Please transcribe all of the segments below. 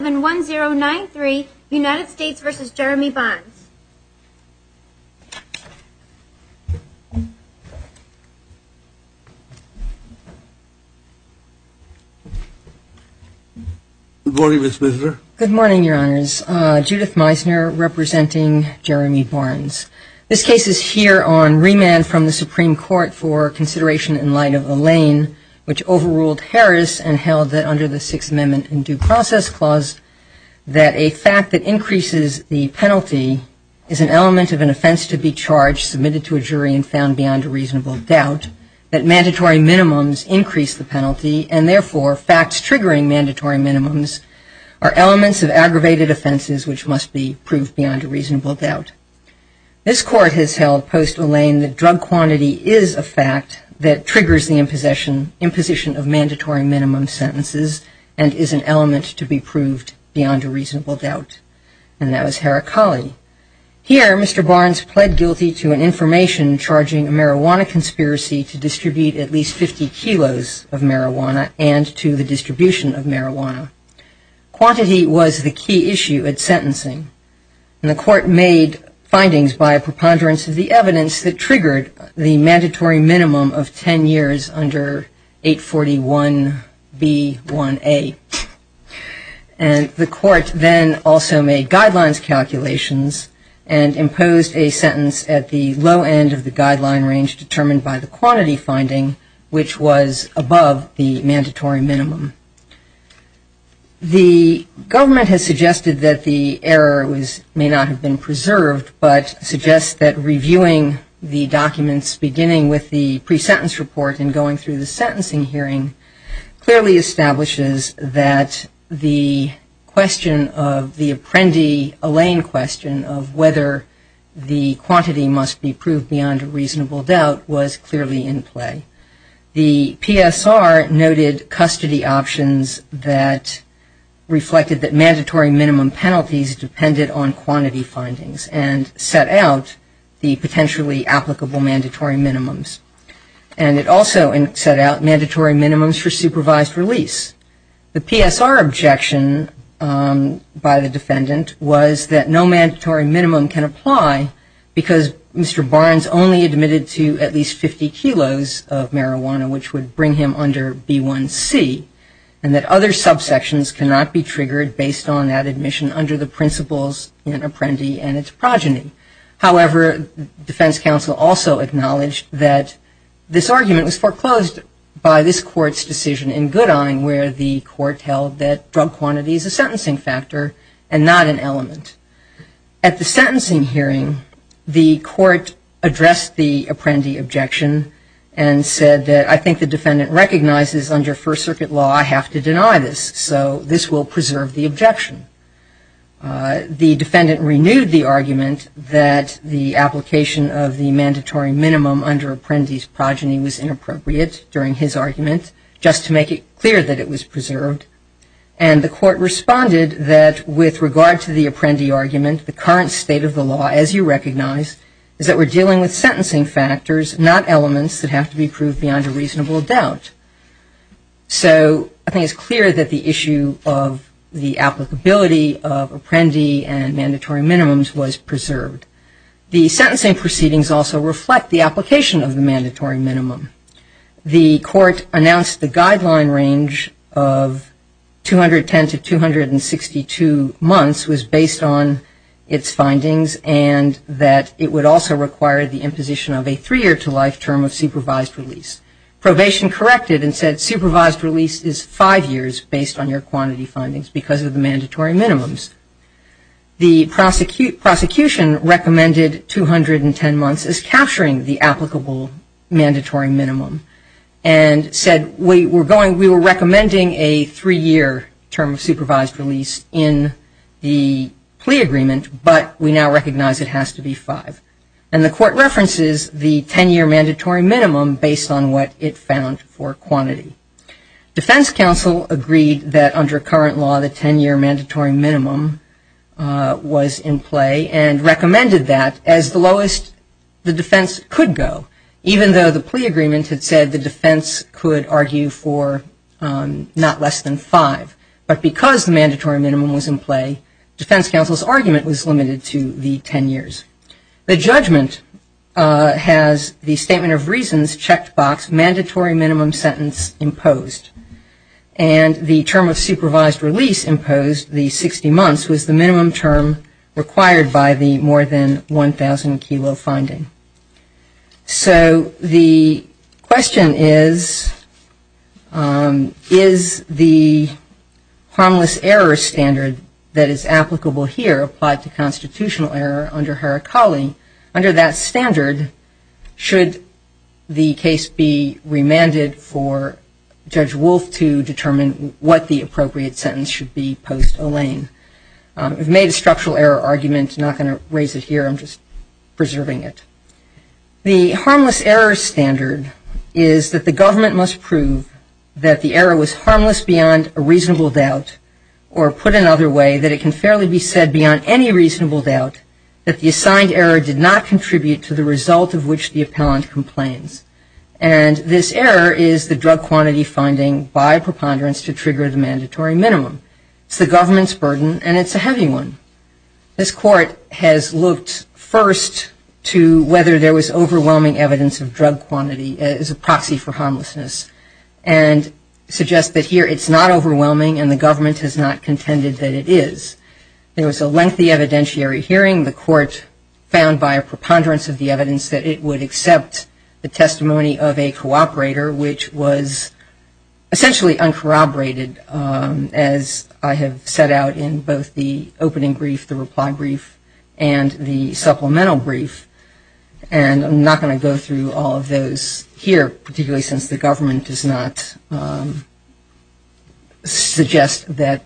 Good morning, Ms. Misner. Good morning, Your Honors. Judith Misner, representing Jeremy Barnes. This case is here on remand from the Supreme Court for consideration in light of that a fact that increases the penalty is an element of an offense to be charged, submitted to a jury, and found beyond a reasonable doubt, that mandatory minimums increase the penalty, and therefore, facts triggering mandatory minimums are elements of aggravated offenses which must be proved beyond a reasonable doubt. This Court has held post-Elaine that drug minimums increase the penalty, and therefore, facts triggering mandatory minimums are elements of an offense to be charged, submitted to a jury, and therefore, facts triggering mandatory minimums are elements of an offense to be proved beyond a reasonable doubt. And that was Heracli. Here, Mr. Barnes pled guilty to an information charging a marijuana conspiracy to distribute at least 50 kilos of marijuana and to the distribution of marijuana. Quantity was the key issue at sentencing, and the Court made findings by a preponderance of the evidence that triggered the mandatory minimum of 10 years under 841B1A. And the Court then also made guidelines calculations and imposed a sentence at the low end of the guideline range determined by the quantity finding, which was above the mandatory minimum. The government has suggested that the error may not have been preserved, but suggests that reviewing the documents beginning with the pre-sentence report and going through the sentencing hearing clearly establishes that the question of the reasonable doubt was clearly in play. The PSR noted custody options that reflected that mandatory minimum penalties depended on quantity findings and set out the potentially applicable mandatory minimums. And it also set out mandatory minimums for supervised release. The PSR objection by the defendant was that no mandatory minimum can apply because Mr. Barnes only admitted to at least 50 kilos of marijuana, which would bring him under B1C, and that other subsections cannot be triggered based on that admission under the principles in Apprendi and its progeny. However, defense counsel also acknowledged that this argument was foreclosed by this Court's decision in Goodine, where the Court held that drug quantity is a sentencing factor and not an element. At the sentencing hearing, the Court addressed the Apprendi objection and said that, I think the defendant recognizes under First Circuit law I have to deny this, so this will preserve the argument that the application of the mandatory minimum under Apprendi's progeny was inappropriate during his argument, just to make it clear that it was preserved. And the Court responded that, with regard to the Apprendi argument, the current state of the law, as you recognize, is that we're dealing with sentencing factors, not elements that have to be proved beyond a reasonable doubt. So I think it's clear that the issue of the applicability of Apprendi and mandatory minimums was preserved. The sentencing proceedings also reflect the application of the mandatory minimum. The Court announced the guideline range of 210 to 262 months was based on its findings and that it would also require the imposition of a three-year-to-life term of supervised release. Probation corrected and said supervised release is five years based on your quantity findings because of the mandatory minimums. The prosecution recommended 210 months as capturing the applicable mandatory minimum and said we were recommending a three-year term of mandatory minimum based on what it found for quantity. Defense counsel agreed that, under current law, the 10-year mandatory minimum was in play and recommended that as the lowest the defense could go, even though the plea agreement had said the defense could argue for not less than five. But because the mandatory minimum sentence imposed and the term of supervised release imposed, the 60 months, was the minimum term required by the more than 1,000-kilo finding. So the question is, is the harmless error standard that is applicable here applied to constitutional error under Harakali, under that standard, and should the case be remanded for Judge Wolf to determine what the appropriate sentence should be post-O'Lane? I've made a structural error argument. I'm not going to raise it here. I'm just preserving it. The harmless error standard is that the government must prove that the error was harmless beyond a And this error is the drug quantity finding by preponderance to trigger the mandatory minimum. It's the government's burden and it's a heavy one. This court has looked first to whether there was overwhelming evidence of drug quantity as a proxy for harmlessness and suggests that here it's not overwhelming and the government has not the testimony of a cooperator, which was essentially uncorroborated, as I have set out in both the opening brief, the reply brief, and the supplemental brief. And I'm not going to go through all of those here, particularly since the government does not suggest that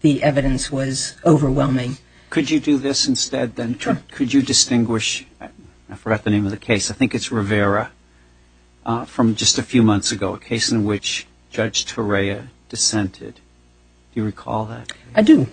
the evidence was overwhelming. Could you do this instead then? Sure. Could you distinguish, I forgot the name of the case, I think it's Rivera, from just a few months ago, a case in which Judge Torreya dissented. Do you recall that? I do.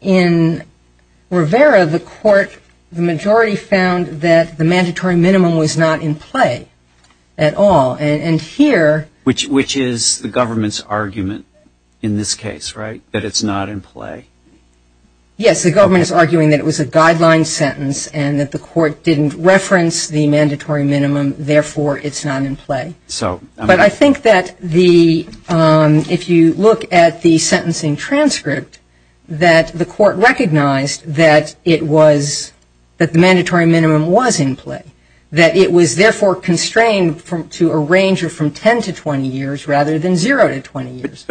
In Rivera, the court, the majority found that the mandatory minimum was not in play at all. And here Which is the government's argument in this case, right, that it's not in play? Yes, the government is arguing that it was a guideline sentence and that the court didn't reference the mandatory minimum, therefore it's not in play. But I think that the, if you look at the sentencing transcript, that the court recognized that it was, that the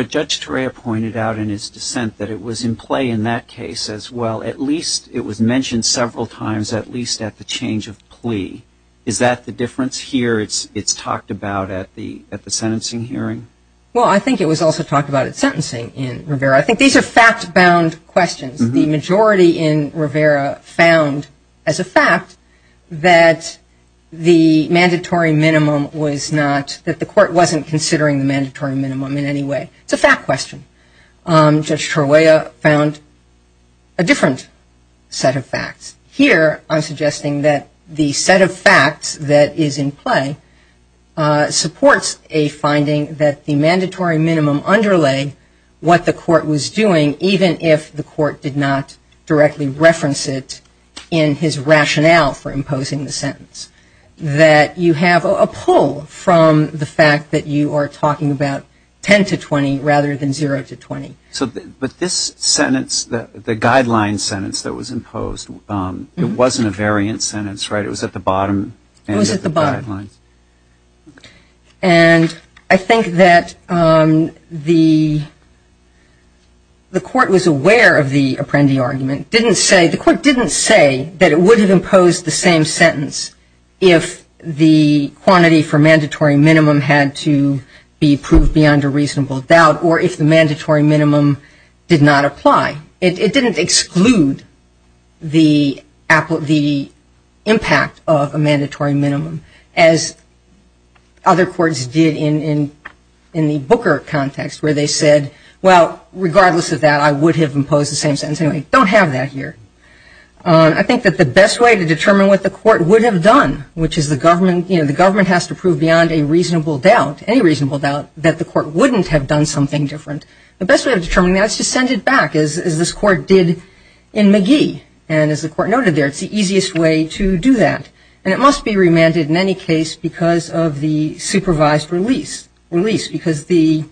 judge pointed out in his dissent that it was in play in that case as well. At least it was mentioned several times, at least at the change of plea. Is that the difference here? It's talked about at the sentencing hearing? Well, I think it was also talked about at sentencing in Rivera. I think these are fact-bound questions. The majority in Rivera found as a fact that the mandatory minimum was not, that the court wasn't considering the mandatory minimum in any way. It's a fact question. Judge Torreya found a different set of facts. Here, I'm suggesting that the set of facts that is in play supports a finding that the mandatory minimum underlay what the court was doing, even if the court did not directly reference it in his sentence. So a pull from the fact that you are talking about 10 to 20 rather than 0 to 20. But this sentence, the guideline sentence that was imposed, it wasn't a variant sentence, right? It was at the bottom? It was at the bottom. And I think that the court was aware of the Apprendi argument, didn't say, the court didn't say that it would have imposed the same sentence if the quantity for mandatory minimum had to be proved beyond a reasonable doubt or if the mandatory minimum did not apply. It didn't exclude the impact of a mandatory minimum as other courts did in the Booker context where they said, well, regardless of that, I would have imposed the same sentence. Anyway, don't have that here. I think that the best way to determine what the court would have done, which is the government has to prove beyond a reasonable doubt, any reasonable doubt, that the court wouldn't have done something different. The best way of determining that is to send it back, as this court did in McGee. And as the court noted there, it's the easiest way to do that. And it must be remanded in any case because of the supervised release, because the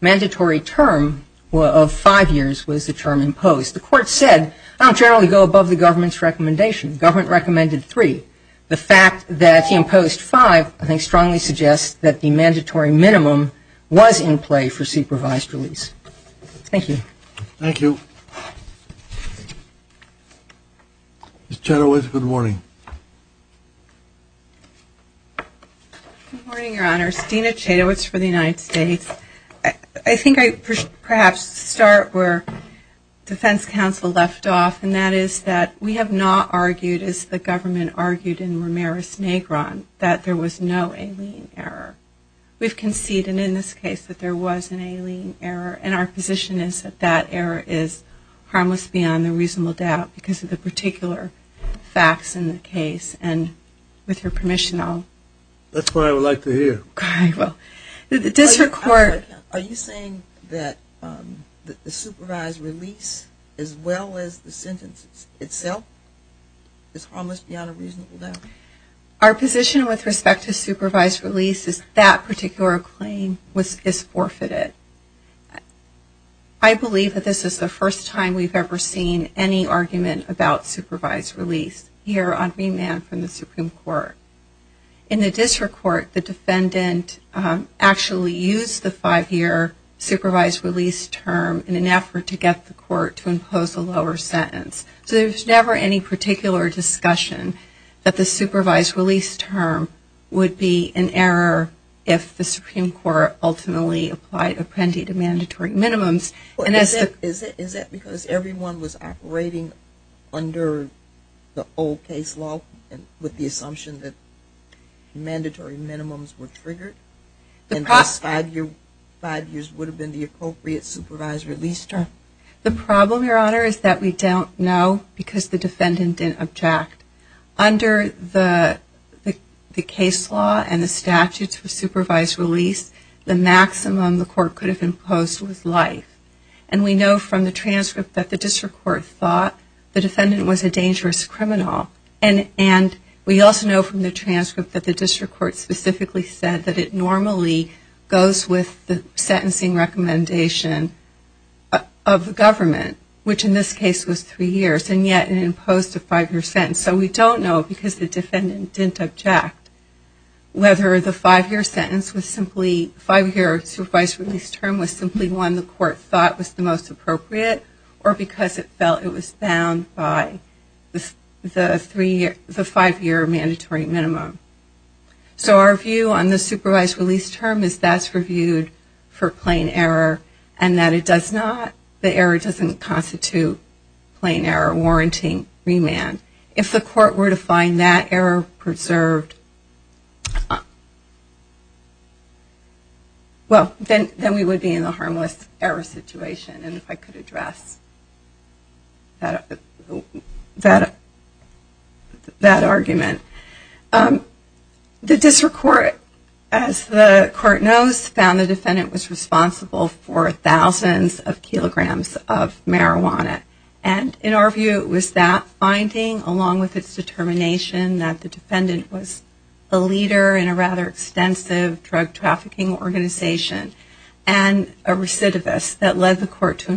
mandatory term of five years was the term imposed. The court said, I'll generally go above the government's recommendation. Government recommended three. The fact that he imposed five, I think, strongly suggests that the mandatory minimum was in play for supervised release. Thank you. Thank you. Ms. Chadowitz, good morning. Good morning, Your Honors. Dina Chadowitz for the United States. I think I perhaps start where Defense Counsel left off, and that is that we have not argued, as the government argued in Ramirez-Nagron, that there was no alien error. We've conceded in this case that there was an alien error, and our position is that that error is harmless beyond the reasonable doubt, because of the particular facts in the case. And with your permission, I'll... That's what I would like to hear. Are you saying that the supervised release, as well as the sentence itself, is harmless beyond a reasonable doubt? Our position with respect to supervised release is that particular claim is forfeited. I believe that this is the first time we've ever seen any argument about supervised release here on remand from the Supreme Court. In the district court, the defendant actually used the five-year supervised release term in an effort to get the court to impose a lower discussion that the supervised release term would be an error if the Supreme Court ultimately applied Apprendi to mandatory minimums. Is that because everyone was operating under the old case law with the assumption that mandatory minimums were triggered? The problem... And this five years would have been the appropriate supervised release term? The problem, Your Honor, is that we don't know because the defendant didn't object. Under the case law and the statutes of supervised release, the maximum the court could have imposed was life. And we know from the transcript that the district court thought the defendant was a dangerous criminal. And we also know from the government, which in this case was three years, and yet it imposed a five-year sentence. So we don't know because the defendant didn't object whether the five-year sentence was simply...five-year supervised release term was simply one the court thought was the most appropriate or because it felt it was bound by the five-year mandatory minimum. So our view on the supervised release term is that's reviewed for plain error and that it does not...the error doesn't constitute plain error warranting remand. If the court were to find that error preserved, well, then we would be in the harmless error situation. And if I could address that argument, the district court, as the court knows, found the defendant was responsible for thousands of kilograms of marijuana. And in our view, it was that finding along with its determination that the defendant was a leader in a rather extensive drug trafficking organization and a recidivist that led the court to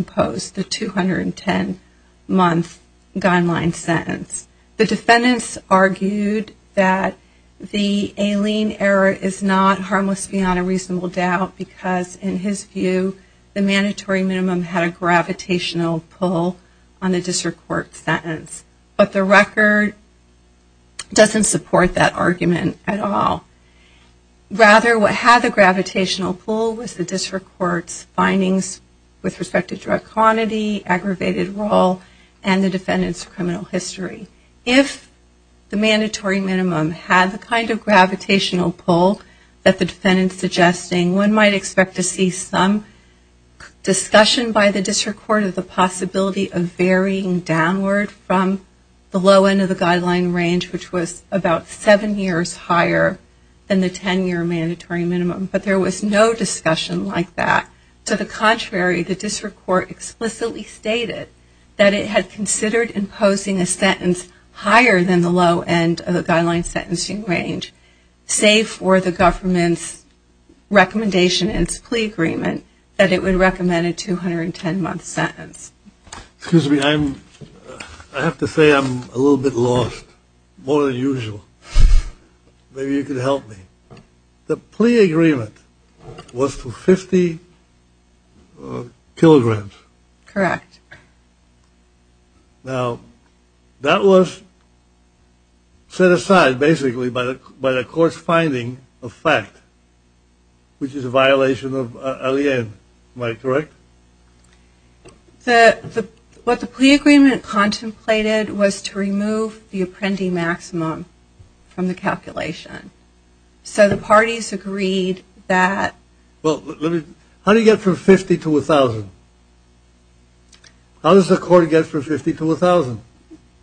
argue that the alien error is not harmless beyond a reasonable doubt because in his view, the mandatory minimum had a gravitational pull on the district court sentence. But the record doesn't support that argument at all. Rather, what had the gravitational pull was the district court's findings with respect to drug quantity, aggravated role, and the defendant's criminal history. If the mandatory minimum had the kind of gravitational pull that the defendant's suggesting, one might expect to see some discussion by the district court of the possibility of varying downward from the low end of the guideline range, which was about seven years higher than the 10-year mandatory minimum. But there was no discussion like that. To the contrary, the district court explicitly stated that it had considered imposing a sentence higher than the low end of the guideline sentencing range, save for the government's recommendation in its plea agreement that it would recommend a 210-month sentence. Maybe you could help me. The plea agreement was for 50 kilograms. Correct. Now, that was set aside basically by the court's finding of fact, which is a violation of alien. Am I correct? What the plea agreement contemplated was to remove the apprendee maximum from the calculation. So the parties agreed that... How does the court get from 50 to 1,000?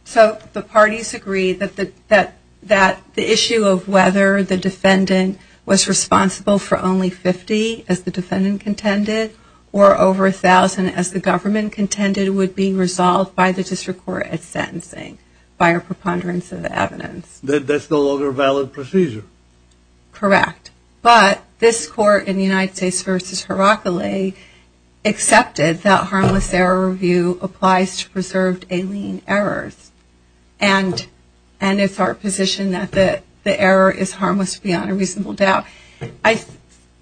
So the parties agreed that the issue of whether the defendant was responsible for only 50, as the defendant contended, or over 1,000, as the government contended, would be resolved by the district court at sentencing, by our preponderance of the evidence. That's no longer a valid procedure? Correct. But this court in the United States v. Heracli, accepted that harmless error review applies to preserved alien errors. And it's our position that the error is harmless beyond a reasonable doubt.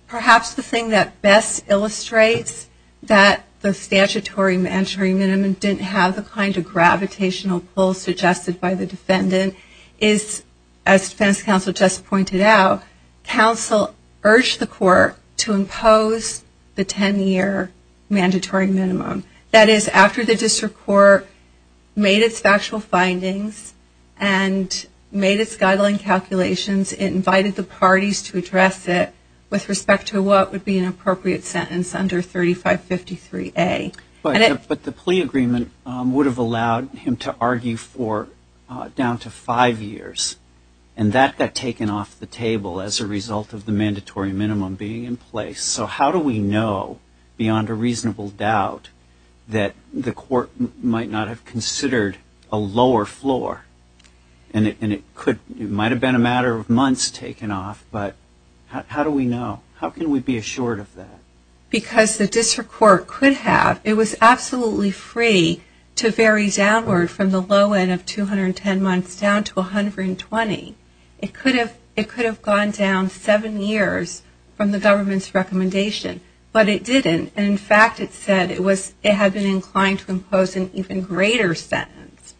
Perhaps the thing that best illustrates that the statutory mandatory minimum didn't have the kind of gravitational pull suggested by the defendant is that it was a violation of alien. As defense counsel just pointed out, counsel urged the court to impose the 10-year mandatory minimum. That is, after the district court made its factual findings and made its guideline calculations, it invited the parties to address it with respect to what would be an appropriate sentence under 3553A. But the plea agreement would have allowed him to argue for down to five years. And that got taken off the table as a result of the mandatory minimum being in place. So how do we know, beyond a reasonable doubt, that the court might not have considered a lower floor? And it might have been a matter of months taken off, but how do we know? How can we be assured of that? Because the district court could have. It was absolutely free to vary downward from the low end of 210 months down to 120. It could have gone down seven years from the government's recommendation, but it didn't. And in fact, it said it had been inclined to impose an even greater sentence.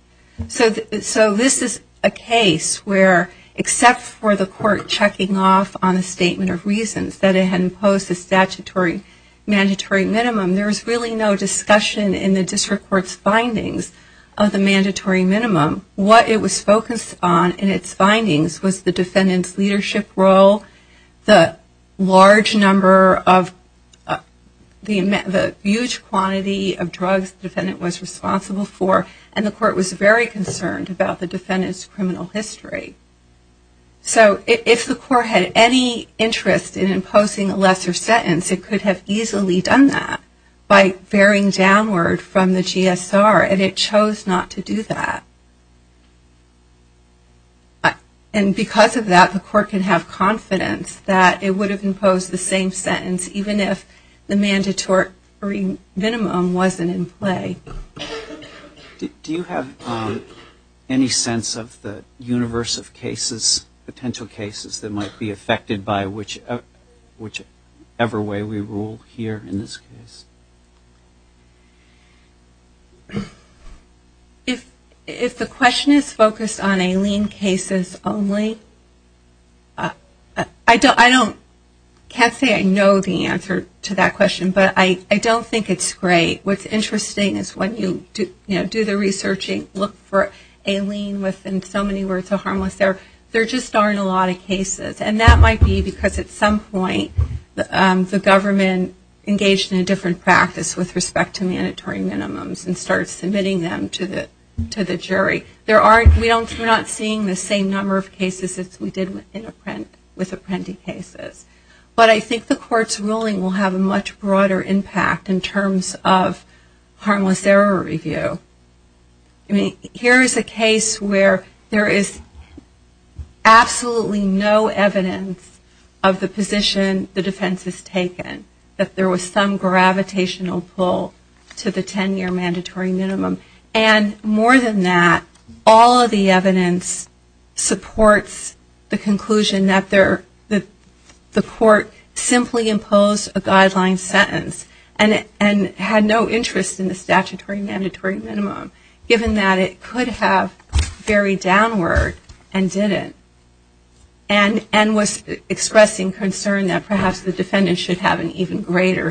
So this is a case where, except for the court checking off on a statement of reasons, that it had imposed a statutory minimum. There was really no discussion in the district court's findings of the mandatory minimum. What it was focused on in its findings was the defendant's leadership role, the large number of the huge quantity of drugs the defendant was responsible for, and the court was very concerned about the defendant's criminal history. So if the court had any interest in imposing a lesser sentence, it could have easily done that by varying downward from the GSR, and it chose not to do that. And because of that, the court could have confidence that it would have imposed the same sentence, even if the mandatory minimum wasn't in play. Do you have any sense of the universe of cases, potential cases, that might be affected by whichever way we rule here in this case? If the question is focused on a lien cases only, I can't say I know the answer to that question, but I don't think it's great. What's interesting is when you look at the case, you can see that there are a lot of cases that are not linked to a lien. When you do the researching, look for a lien within so many words of harmless, there just aren't a lot of cases. And that might be because at some point, the government engaged in a different practice with respect to mandatory minimums and started submitting them to the jury. We're not seeing the same number of cases as we did with apprendee cases. But I think the court's ruling will have a much broader impact in terms of harmless there. I mean, here is a case where there is absolutely no evidence of the position the defense has taken, that there was some gravitational pull to the 10-year mandatory minimum. And more than that, all of the evidence supports the conclusion that the court simply imposed a guideline sentence and had no interest in the statutory minimum. Given that it could have varied downward and didn't. And was expressing concern that perhaps the defendant should have an even greater sentence.